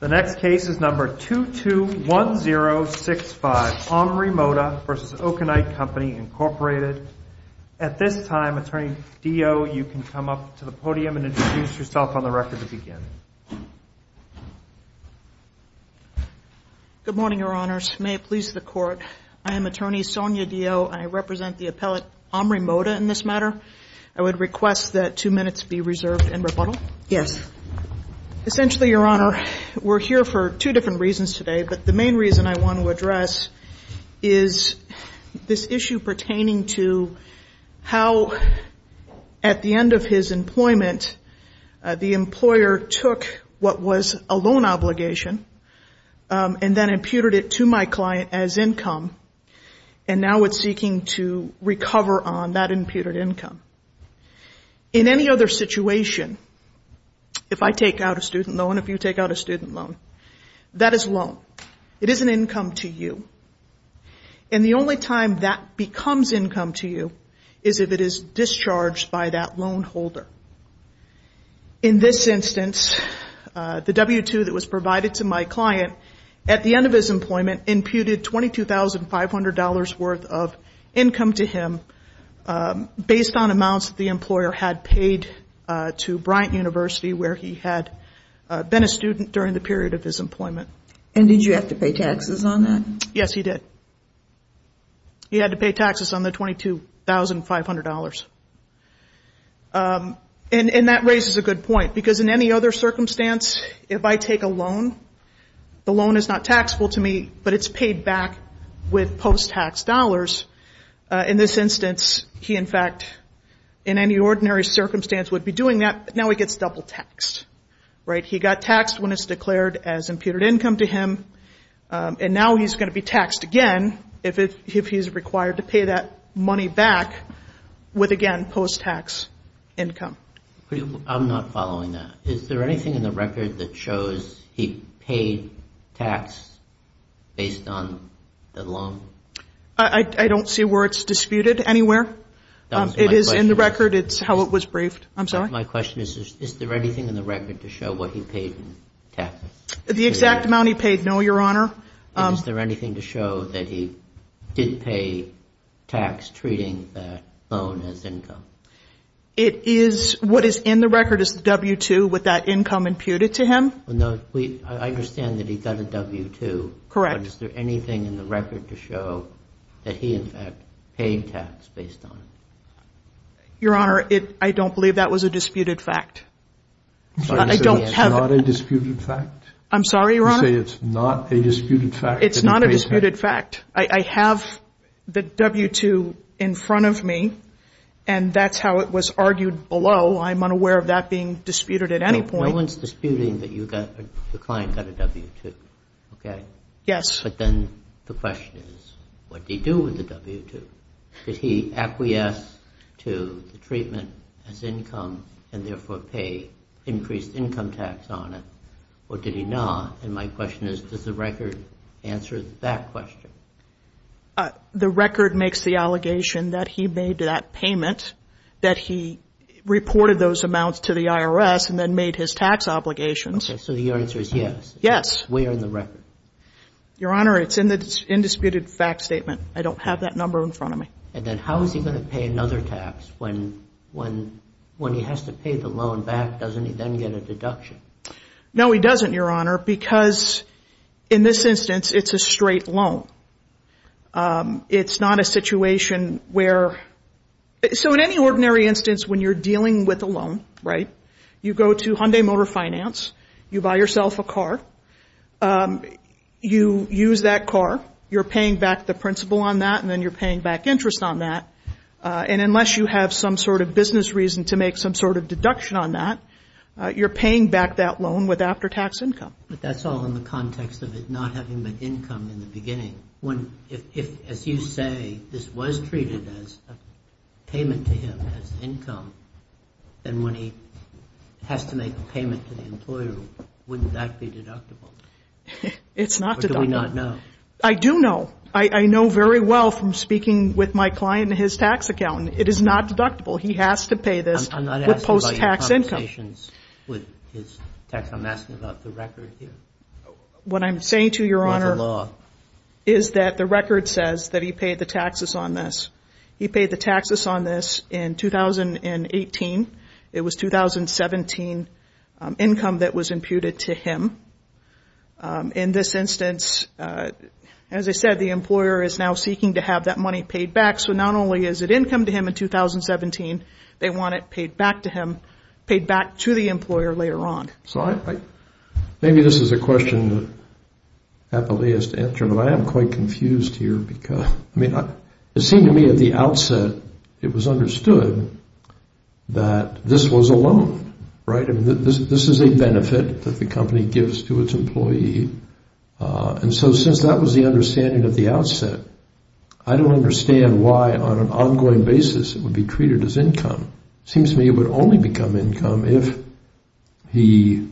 The next case is number 221065, Omri Mota v. Okonite Company, Inc. At this time, Attorney Dio, you can come up to the podium and introduce yourself on the record to begin. Good morning, Your Honors. May it please the Court, I am Attorney Sonia Dio and I represent the appellate Omri Mota in this matter. I would request that two minutes be reserved in rebuttal. Yes. Essentially, Your Honor, we're here for two different reasons today, but the main reason I want to address is this issue pertaining to how at the end of his employment, the employer took what was a loan obligation and then imputed it to my client as income, and now it's seeking to recover on that imputed income. In any other situation, if I take out a student loan, if you take out a student loan, that is a loan. It is an income to you, and the only time that becomes income to you is if it is discharged by that loan holder. In this instance, the W-2 that was provided to my client at the end of his employment imputed $22,500 worth of income to him based on amounts that the employer had paid to Bryant University where he had been a student during the period of his employment. And did you have to pay taxes on that? Yes, he did. He had to pay taxes on the $22,500. And that raises a good point, because in any other circumstance, if I take a loan, the it's paid back with post-tax dollars. In this instance, he in fact, in any ordinary circumstance would be doing that, but now he gets double taxed. He got taxed when it's declared as imputed income to him, and now he's going to be taxed again if he's required to pay that money back with again post-tax income. I'm not following that. Is there anything in the record that shows he paid tax based on the loan? I don't see where it's disputed anywhere. It is in the record. It's how it was briefed. I'm sorry? My question is, is there anything in the record to show what he paid in taxes? The exact amount he paid, no, Your Honor. Is there anything to show that he did pay tax treating that loan as income? It is, what is in the record is the W-2 with that income imputed to him. No, I understand that he got a W-2. Correct. Is there anything in the record to show that he in fact paid tax based on it? Your Honor, I don't believe that was a disputed fact. I'm sorry, you're saying it's not a disputed fact? I'm sorry, Your Honor? You're saying it's not a disputed fact that he paid tax? It's not a disputed fact. I have the W-2 in front of me, and that's how it was argued below. I'm unaware of that being disputed at any point. No one's disputing that the client got a W-2, okay? Yes. But then the question is, what did he do with the W-2? Did he acquiesce to the treatment as income and therefore pay increased income tax on it, or did he not? And my question is, does the record answer that question? The record makes the allegation that he made that payment, that he reported those amounts to the IRS and then made his tax obligations. Okay, so your answer is yes? Yes. Where in the record? Your Honor, it's in the indisputed fact statement. I don't have that number in front of me. And then how is he going to pay another tax when he has to pay the loan back? Doesn't he then get a deduction? No, he doesn't, Your Honor, because in this instance, it's a straight loan. It's not a situation where... So in any ordinary instance, when you're dealing with a loan, right? You go to Hyundai Motor Finance, you buy yourself a car, you use that car, you're paying back the principal on that, and then you're paying back interest on that. And unless you have some sort of business reason to make some sort of deduction on that, you're paying back that loan with after-tax income. But that's all in the context of it not having been income in the beginning. If, as you say, this was treated as a payment to him as income, then when he has to make a payment to the employer, wouldn't that be deductible? It's not deductible. Or do we not know? I do know. I know very well from speaking with my client and his tax accountant. It is not deductible. He has to pay this with post-tax income. With his tax... I'm asking about the record here. What I'm saying to you, Your Honor, is that the record says that he paid the taxes on this. He paid the taxes on this in 2018. It was 2017 income that was imputed to him. In this instance, as I said, the employer is now seeking to have that money paid back. So not only is it income to him in 2017, they want it paid back to him, paid back to the employer later on. So maybe this is a question that happily has to answer, but I am quite confused here because, I mean, it seemed to me at the outset it was understood that this was a loan, right? This is a benefit that the company gives to its employee. And so since that was the understanding at the outset, I don't understand why on an ongoing basis it would be treated as income. Seems to me it would only become income if he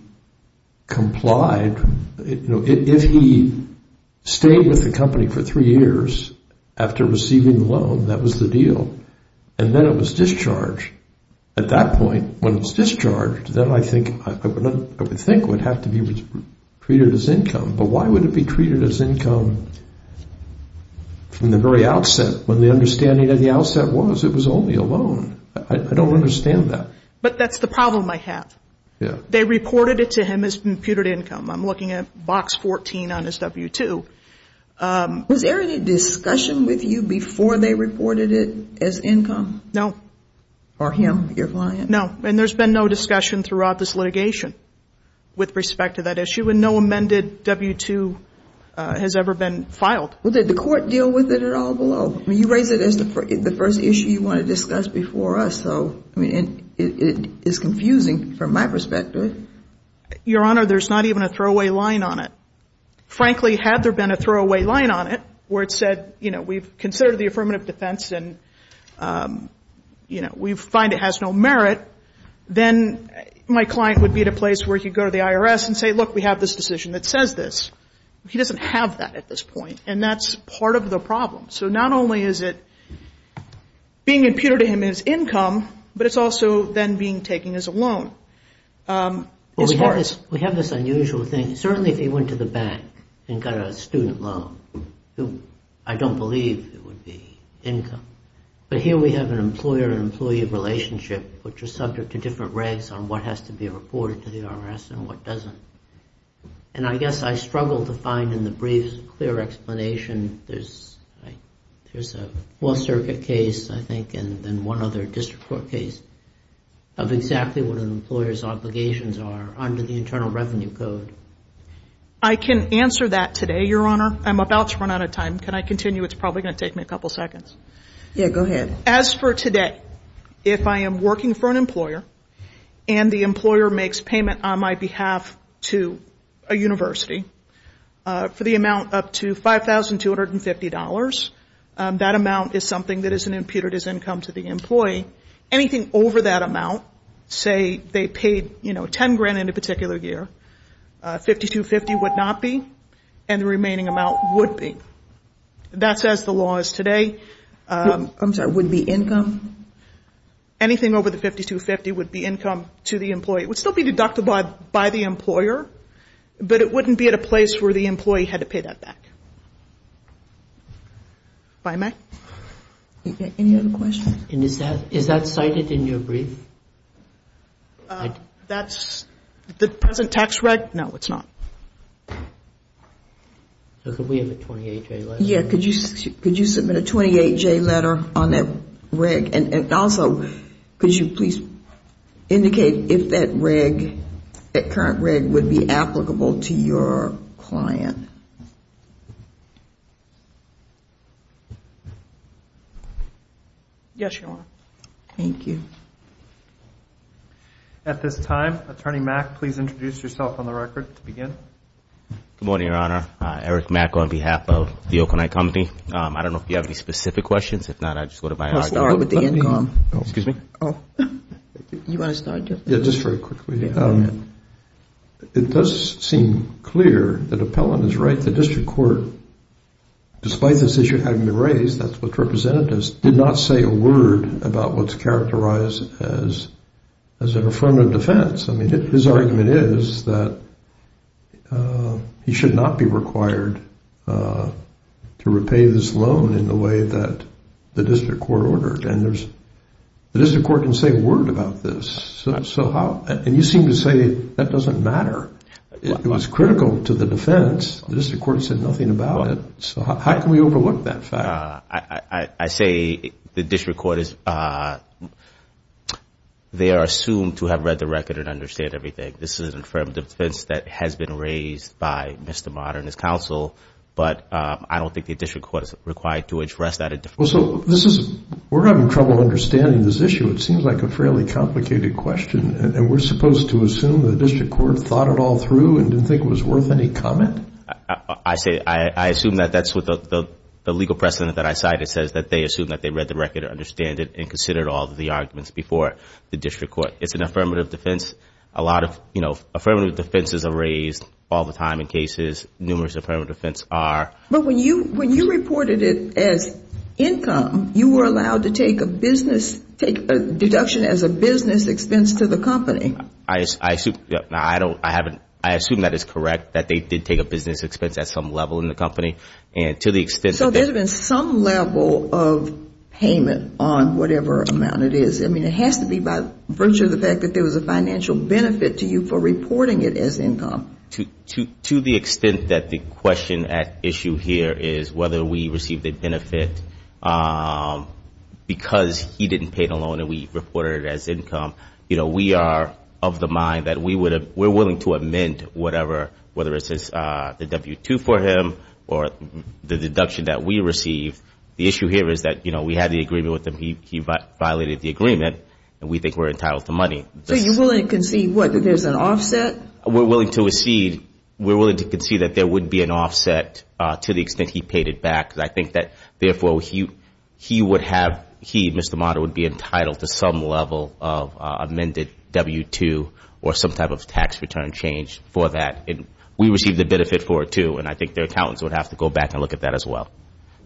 complied. If he stayed with the company for three years after receiving the loan, that was the deal. And then it was discharged. At that point, when it was discharged, then I think it would have to be treated as income. But why would it be treated as income from the very outset when the understanding at the outset was it was only a loan? I don't understand that. But that's the problem I have. They reported it to him as computed income. I'm looking at box 14 on his W-2. Was there any discussion with you before they reported it as income? No. For him, your client? No. And there's been no discussion throughout this litigation with respect to that issue. And no amended W-2 has ever been filed. Well, did the court deal with it at all below? I mean, you raised it as the first issue you want to discuss before us. So, I mean, it is confusing from my perspective. Your Honor, there's not even a throwaway line on it. Frankly, had there been a throwaway line on it where it said, you know, we've considered the affirmative defense and, you know, we find it has no merit, then my client would be at a place where he'd go to the IRS and say, look, we have this decision that says this. He doesn't have that at this point. And that's part of the problem. So not only is it being imputed to him as income, but it's also then being taken as a loan. We have this unusual thing. Certainly, if he went to the bank and got a student loan, I don't believe it would be income. But here we have an employer-employee relationship, which is subject to different regs on what has to be reported to the IRS and what doesn't. And I guess I struggle to find in the briefs a clear explanation. There's a Fourth Circuit case, I think, and then one other district court case of exactly what an employer's obligations are under the Internal Revenue Code. I can answer that today, Your Honor. I'm about to run out of time. Can I continue? It's probably going to take me a couple seconds. Yeah, go ahead. As for today, if I am working for an employer and the employer makes payment on my behalf to a university for the amount up to $5,250, that amount is something that isn't imputed as income to the employee. Anything over that amount, say they paid, you know, $10,000 in a particular year, $52,500 would not be, and the remaining amount would be. That's as the law is today. I'm sorry, would be income? Anything over the $52,500 would be income to the employee. It would still be deducted by the employer, but it wouldn't be at a place where the employee had to pay that back. If I may? Any other questions? And is that cited in your brief? That's the present tax reg? No, it's not. So could we have a 28-J letter? Yeah, could you submit a 28-J letter on that reg? And also, could you please indicate if that reg, that current reg would be applicable to your client? Yes, Your Honor. Thank you. At this time, Attorney Mack, please introduce yourself on the record to begin. Good morning, Your Honor. Eric Mack on behalf of the Oakland High Company. I don't know if you have any specific questions. If not, I'll just go to my hard drive. What about the income? Excuse me? Oh, you want to start, Jeff? Yeah, just very quickly. It does seem clear that Appellant is right. The district court, despite this issue having been raised, that's what representatives did not say a word about what's characterized as an affirmative defense. I mean, his argument is that he should not be required to repay this loan in the way that the district court ordered. And there's, the district court didn't say a word about this. So how, and you seem to say that doesn't matter. It was critical to the defense. The district court said nothing about it. So how can we overlook that fact? I say the district court is, they are assumed to have read the record and understand everything. This is an affirmative defense that has been raised by Mr. Mott and his counsel. But I don't think the district court is required to address that. Well, so this is, we're having trouble understanding this issue. It seems like a fairly complicated question. And we're supposed to assume the district court thought it all through and didn't think it was worth any comment? I say, I assume that that's what the legal precedent that I cited says, that they assume that they read the record and understand it and considered all of the arguments before the district court. It's an affirmative defense. A lot of affirmative defenses are raised all the time in cases. Numerous affirmative defense are. But when you reported it as income, you were allowed to take a business, take a deduction as a business expense to the company. I assume that is correct, that they did take a business expense at some level in the company. And to the extent that they- So there's been some level of payment on whatever amount it is. I mean, it has to be by virtue of the fact that there was a financial benefit to you for reporting it as income. To the extent that the question at issue here is whether we received a benefit because he didn't pay the loan and we reported it as income, you know, we are of the mind that we would have, we're willing to amend whatever, whether it's the W-2 for him or the deduction that we receive. The issue here is that, you know, we had the agreement with him. He violated the agreement and we think we're entitled to money. So you're willing to concede, what, that there's an offset? We're willing to concede that there would be an offset to the extent he paid it back. I think that, therefore, he would have, he, Mr. Motta, would be entitled to some level of amended W-2 or some type of tax return change for that. We received the benefit for it too and I think their accountants would have to go back and look at that as well.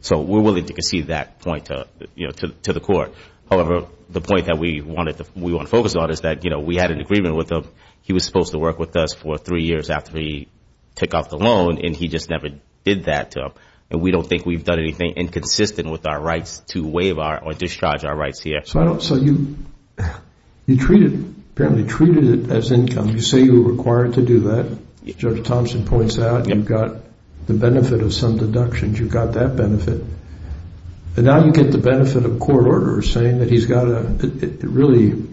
So we're willing to concede that point to the court. However, the point that we want to focus on is that, you know, we had an agreement with him. He was supposed to work with us for three years after he took off the loan and he just never did that to him. And we don't think we've done anything inconsistent with our rights to waive or discharge our rights here. So I don't, so you, you treated, apparently treated it as income. You say you were required to do that. Judge Thompson points out you've got the benefit of some deductions. You've got that benefit. And now you get the benefit of court orders saying that he's got a, it really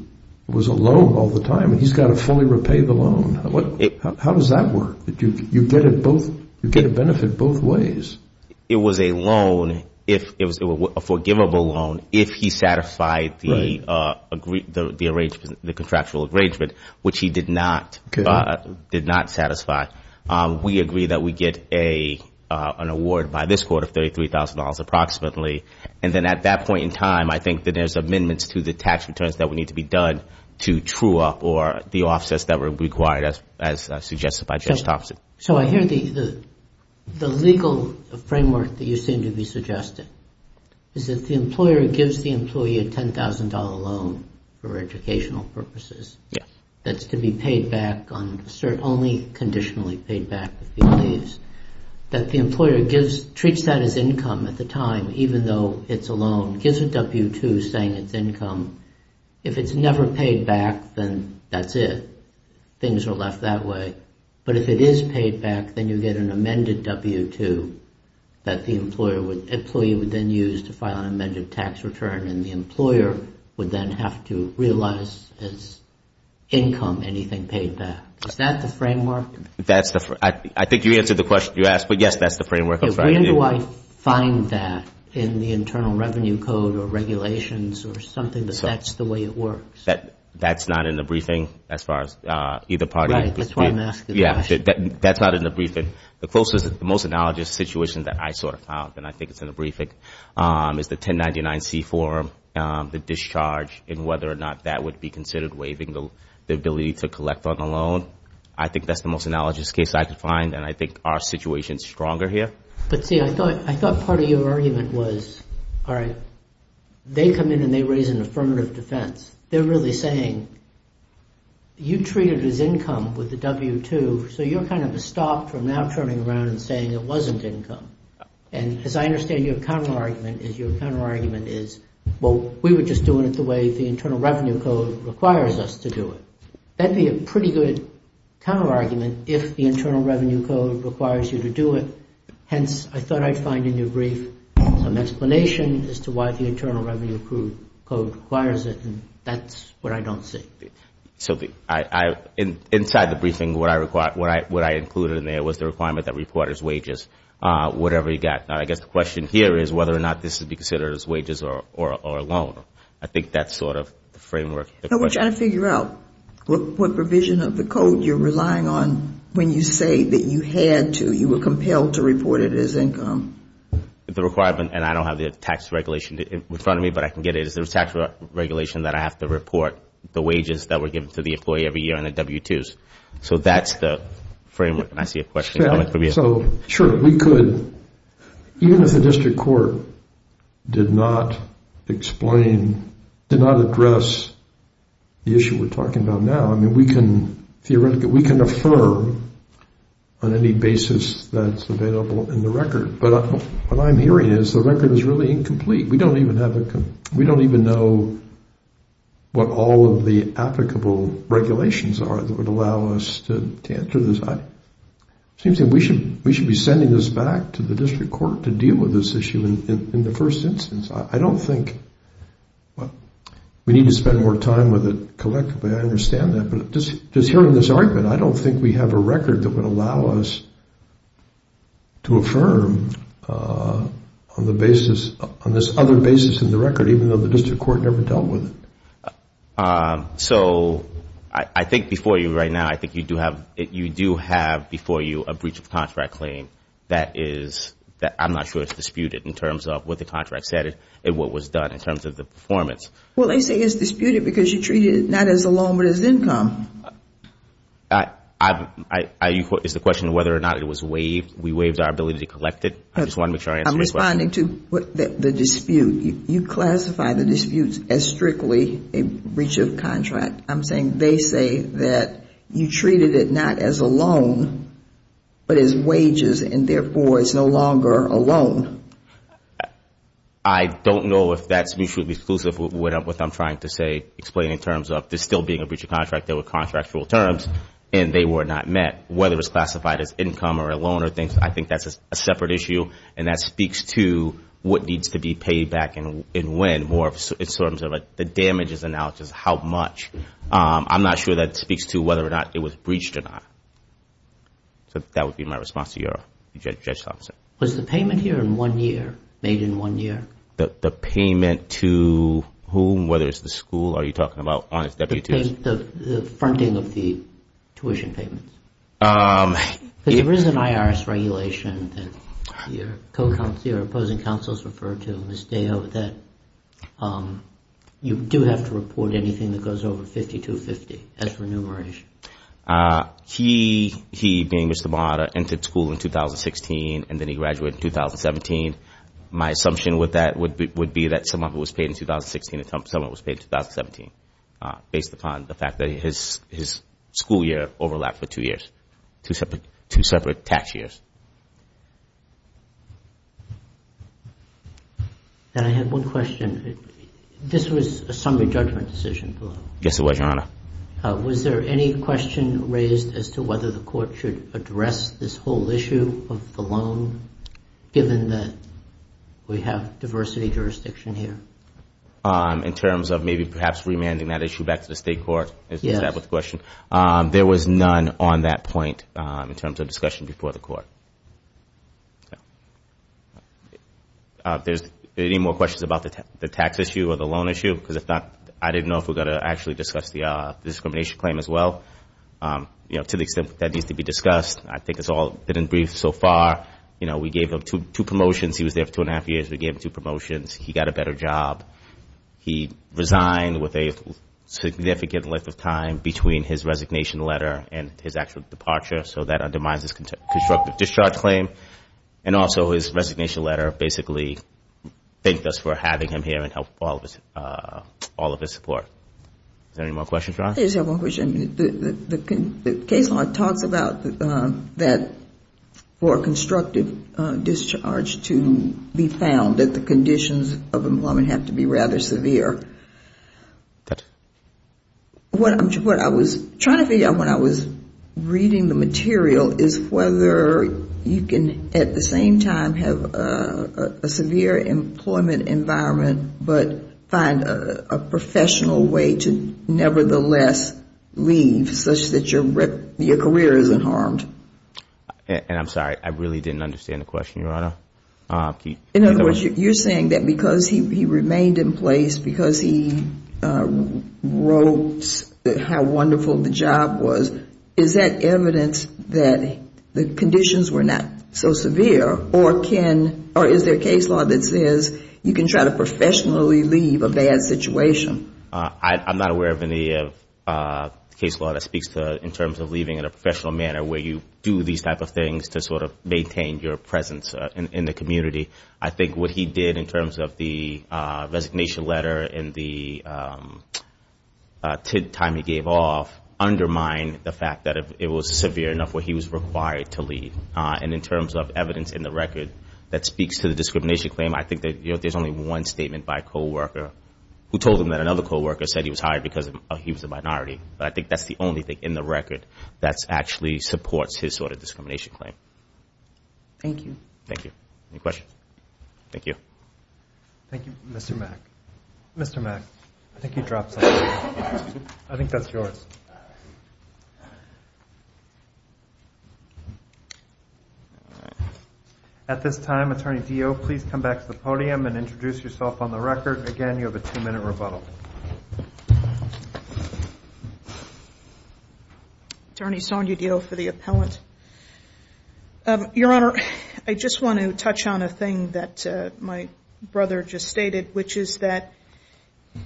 was a loan all the time and he's got to fully repay the loan. What, how does that work? That you, you get it both, you get a benefit both ways. It was a loan, if it was a forgivable loan, if he satisfied the, the arrangement, the contractual arrangement, which he did not, did not satisfy. We agree that we get a, an award by this court of $33,000 approximately. And then at that point in time, I think that there's amendments to the tax returns that would need to be done to true up or the offsets that were required as, as suggested by Judge Thompson. So, so I hear the, the, the legal framework that you seem to be suggesting is that the employer gives the employee a $10,000 loan for educational purposes. Yeah. That's to be paid back on, only conditionally paid back if he leaves. That the employer gives, treats that as income at the time, even though it's a loan, gives a W-2 saying it's income. If it's never paid back, then that's it. Things are left that way. But if it is paid back, then you get an amended W-2 that the employer would, employee would then use to file an amended tax return and the employer would then have to realize it's income, anything paid back. Is that the framework? That's the, I, I think you answered the question you asked, but yes, that's the framework. When do I find that in the Internal Revenue Code or regulations or something that that's the way it works? That, that's not in the briefing as far as either party. Right, that's why I'm asking the question. Yeah, that's not in the briefing. The closest, the most analogous situation that I sort of found, and I think it's in the briefing, is the 1099-C form, the discharge and whether or not that would be considered waiving the, the ability to collect on a loan. I think that's the most analogous case I could find, and I think our situation is stronger here. But see, I thought, I thought part of your argument was, all right, they come in and they raise an affirmative defense. They're really saying, you treat it as income with the W-2, so you're kind of stopped from now turning around and saying it wasn't income. And as I understand your counter argument is, your counter argument is, well, we were just doing it the way the Internal Revenue Code requires us to do it. That'd be a pretty good counter argument if the Internal Revenue Code requires you to do it. Hence, I thought I'd find in your brief some explanation as to why the Internal Revenue Code requires it, and that's what I don't see. So, I, I, in, inside the briefing, what I required, what I, what I included in there was the requirement that reporters' wages, whatever you got. Now, I guess the question here is whether or not this would be considered as wages or, or, or a loan. I think that's sort of the framework. Now, we're trying to figure out what, what provision of the code you're relying on when you say that you had to, you were compelled to report it as income. The requirement, and I don't have the tax regulation in front of me, but I can get it, is there a tax regulation that I have to report the wages that were given to the employee every year in the W-2s? So, that's the framework, and I see a question coming from you. So, sure, we could, even if the district court did not explain, did not address the issue we're talking about now, I mean, we can theoretically, we can affirm on any basis that's available in the record, but what I'm hearing is the record is really incomplete. We don't even have, we don't even know what all of the applicable regulations are that would allow us to answer this. It seems that we should, we should be sending this back to the district court to deal with this issue in the first instance. I don't think, well, we need to spend more time with it collectively, I understand that, but just hearing this argument, I don't think we have a record that would allow us to affirm on the basis, on this other basis in the record, even though the district court never dealt with it. So, I think before you right now, I think you do have, you do have before you a breach of contract claim that is, I'm not sure it's disputed in terms of what the contract said and what was done in terms of the performance. Well, they say it's disputed because you treated it not as a loan but as income. I, I, I, is the question whether or not it was waived? We waived our ability to collect it? I just wanted to make sure I answered your question. I'm responding to the dispute. You classify the disputes as strictly a breach of contract. I'm saying they say that you treated it not as a loan but as wages and therefore it's no longer a loan. I don't know if that's mutually exclusive with what I'm trying to say, explain in terms of there still being a breach of contract, there were contractual terms and they were not met. Whether it's classified as income or a loan or things, I think that's a separate issue and that speaks to what needs to be paid back and when more in terms of the damages analysis, how much. I'm not sure that speaks to whether or not it was breached or not. So, that would be my response to your, Judge Thompson. Was the payment here in one year, made in one year? The, the payment to whom, whether it's the school, are you talking about on its deputies? The, the fronting of the tuition payments. Because there is an IRS regulation that your co-counsel, your opposing counsels refer to, Ms. Deho, that you do have to report anything that goes over 5250 as remuneration. He, he being Mr. Bahada, entered school in 2016 and then he graduated in 2017. My assumption with that would be that someone was paid in 2016 and someone was paid in 2017 based upon the fact that his, his school year overlapped for two years, two separate, two separate tax years. And I have one question. This was a summary judgment decision. Yes, it was, Your Honor. Was there any question raised as to whether the court should address this whole issue of the loan given that we have diversity jurisdiction here? In terms of maybe perhaps remanding that issue back to the state court? Is that what the question? There was none on that point in terms of discussion before the court. There's any more questions about the tax issue or the loan issue? Because if not, I didn't know if we're going to actually discuss the discrimination claim as well. You know, to the extent that needs to be discussed, I think it's all been in brief so far. You know, we gave him two, two promotions. He was there for two and a half years. We gave him two promotions. He got a better job. He resigned with a significant length of time between his resignation letter and his actual departure. So that undermines his constructive discharge claim. And also, his resignation letter basically thanked us for having him here and all of his support. Is there any more questions, Your Honor? Yes, I have one question. The case law talks about that for constructive discharge to be found that the conditions of employment have to be rather severe. What I was trying to figure out when I was reading the material is whether you can at the same time have a severe employment environment, but find a professional way to nevertheless leave such that your career isn't harmed. I really didn't understand the question, Your Honor. In other words, you're saying that because he remained in place, because he wrote how wonderful the job was, is that evidence that the conditions were not so severe? Or is there a case law that says you can try to professionally leave a bad situation? I'm not aware of any case law that speaks to in terms of leaving in a professional manner where you do these type of things to sort of maintain your presence in the community. I think what he did in terms of the resignation letter and the time he gave off undermined the fact that it was severe enough where he was required to leave. And in terms of evidence in the record that speaks to the discrimination claim, I think that there's only one statement by a coworker who told him that another coworker said he was hired because he was a minority. But I think that's the only thing in the record that actually supports his sort of discrimination claim. Thank you. Thank you. Any questions? Thank you. Thank you, Mr. Mack. Mr. Mack, I think you dropped something. I think that's yours. At this time, Attorney Dio, please come back to the podium and introduce yourself on the record. Again, you have a two-minute rebuttal. Attorney Sonya Dio for the appellant. Your Honor, I just want to touch on a thing that my brother just stated, which is that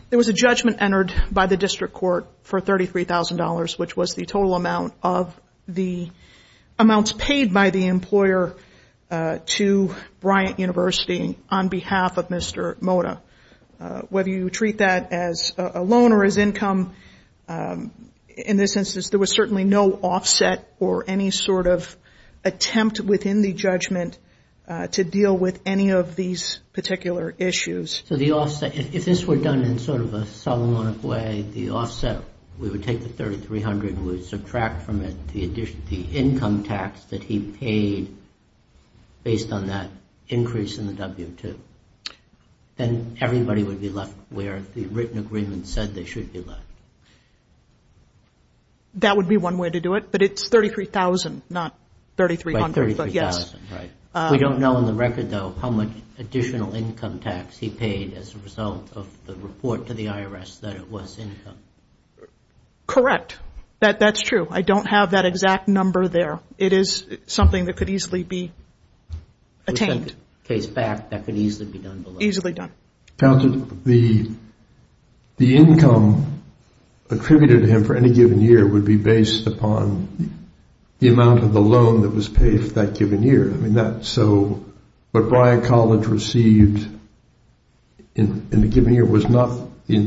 there was a judgment entered by the district court for $33,000, which was the total amount of the amounts paid by the employer to Bryant University on behalf of Mr. Mota. Whether you treat that as a loan or as income, in this instance, there was certainly no offset or any sort of attempt within the judgment to deal with any of these particular issues. So the offset, if this were done in sort of a solemn way, the offset, we would take the $33,000, we would subtract from it the income tax that he paid based on that increase in the W-2, then everybody would be left where the written agreement said they should be left. That would be one way to do it. But it's $33,000, not $3,300. By $33,000, right. We don't know on the record, though, how much additional income tax he paid as a result of the report to the IRS that it was income. Correct. That's true. I don't have that exact number there. It is something that could easily be attained. Which in fact, that could easily be done below. Easily done. Counselor, the income attributed to him for any the amount of the loan that was paid for that given year. I mean, that's so... What Bryan College received in the given year was not the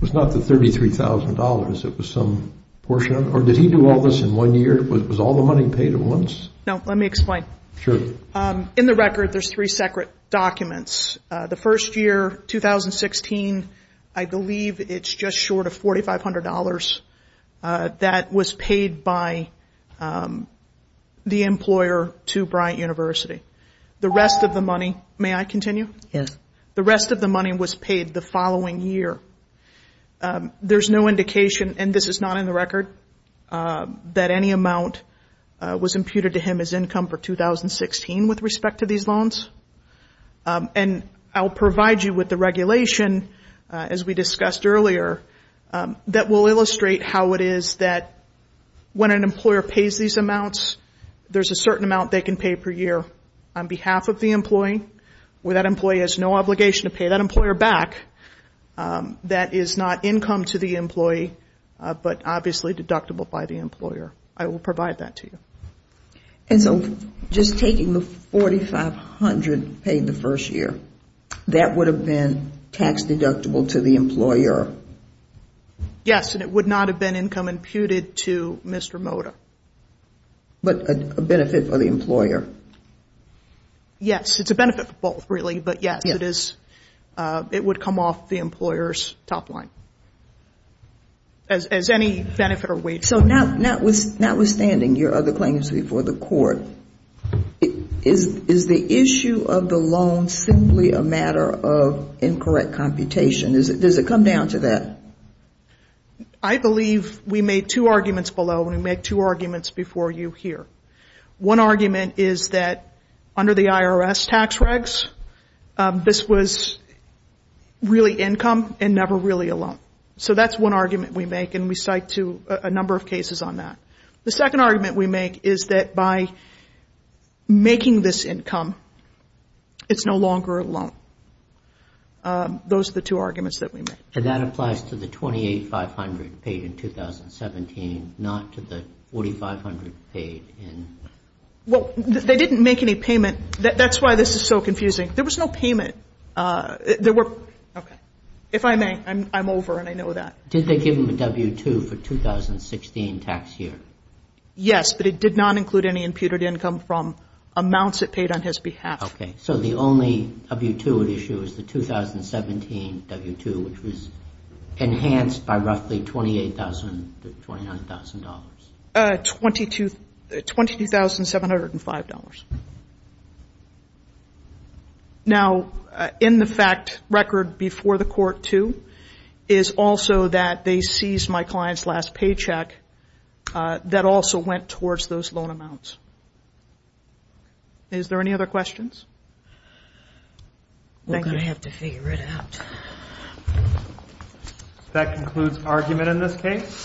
$33,000. It was some portion of it. Or did he do all this in one year? Was all the money paid at once? No. Let me explain. Sure. In the record, there's three separate documents. The first year, 2016, I believe it's just short of $4,500 that was paid by the employer to Bryant University. The rest of the money... May I continue? Yes. The rest of the money was paid the following year. There's no indication, and this is not in the record, that any amount was imputed to him as income for 2016 with respect to these loans. And I'll provide you with the regulation, as we discussed earlier, that will illustrate how it is that when an employer pays these amounts, there's a certain amount they can pay per year on behalf of the employee. Where that employee has no obligation to pay that employer back, that is not income to the employee, but obviously deductible by the employer. I will provide that to you. And so just taking the $4,500 paid the first year, that would have been tax deductible to the employer? Yes, and it would not have been income imputed to Mr. Moda. But a benefit for the employer? Yes, it's a benefit for both, really. But yes, it is. It would come off the employer's top line as any benefit or wage. So notwithstanding your other claims before the court, is the issue of the loan simply a matter of incorrect computation? Does it come down to that? I believe we made two arguments below, and we made two arguments before you here. One argument is that under the IRS tax regs, this was really income and never really a loan. So that's one argument we make, and we cite a number of cases on that. The second argument we make is that by making this income, it's no longer a loan. Those are the two arguments that we make. And that applies to the $2,800,500 paid in 2017, not to the $4,500 paid in... Well, they didn't make any payment. That's why this is so confusing. There was no payment. If I may, I'm over, and I know that. Did they give him a W-2 for 2016 tax year? Yes, but it did not include any imputed income from amounts it paid on his behalf. Okay. So the only W-2 at issue is the 2017 W-2, which was enhanced by roughly $28,000 to $29,000. $22,705. Now, in the fact record before the court too, is also that they seized my client's last paycheck that also went towards those loan amounts. Is there any other questions? We're going to have to figure it out. That concludes argument in this case.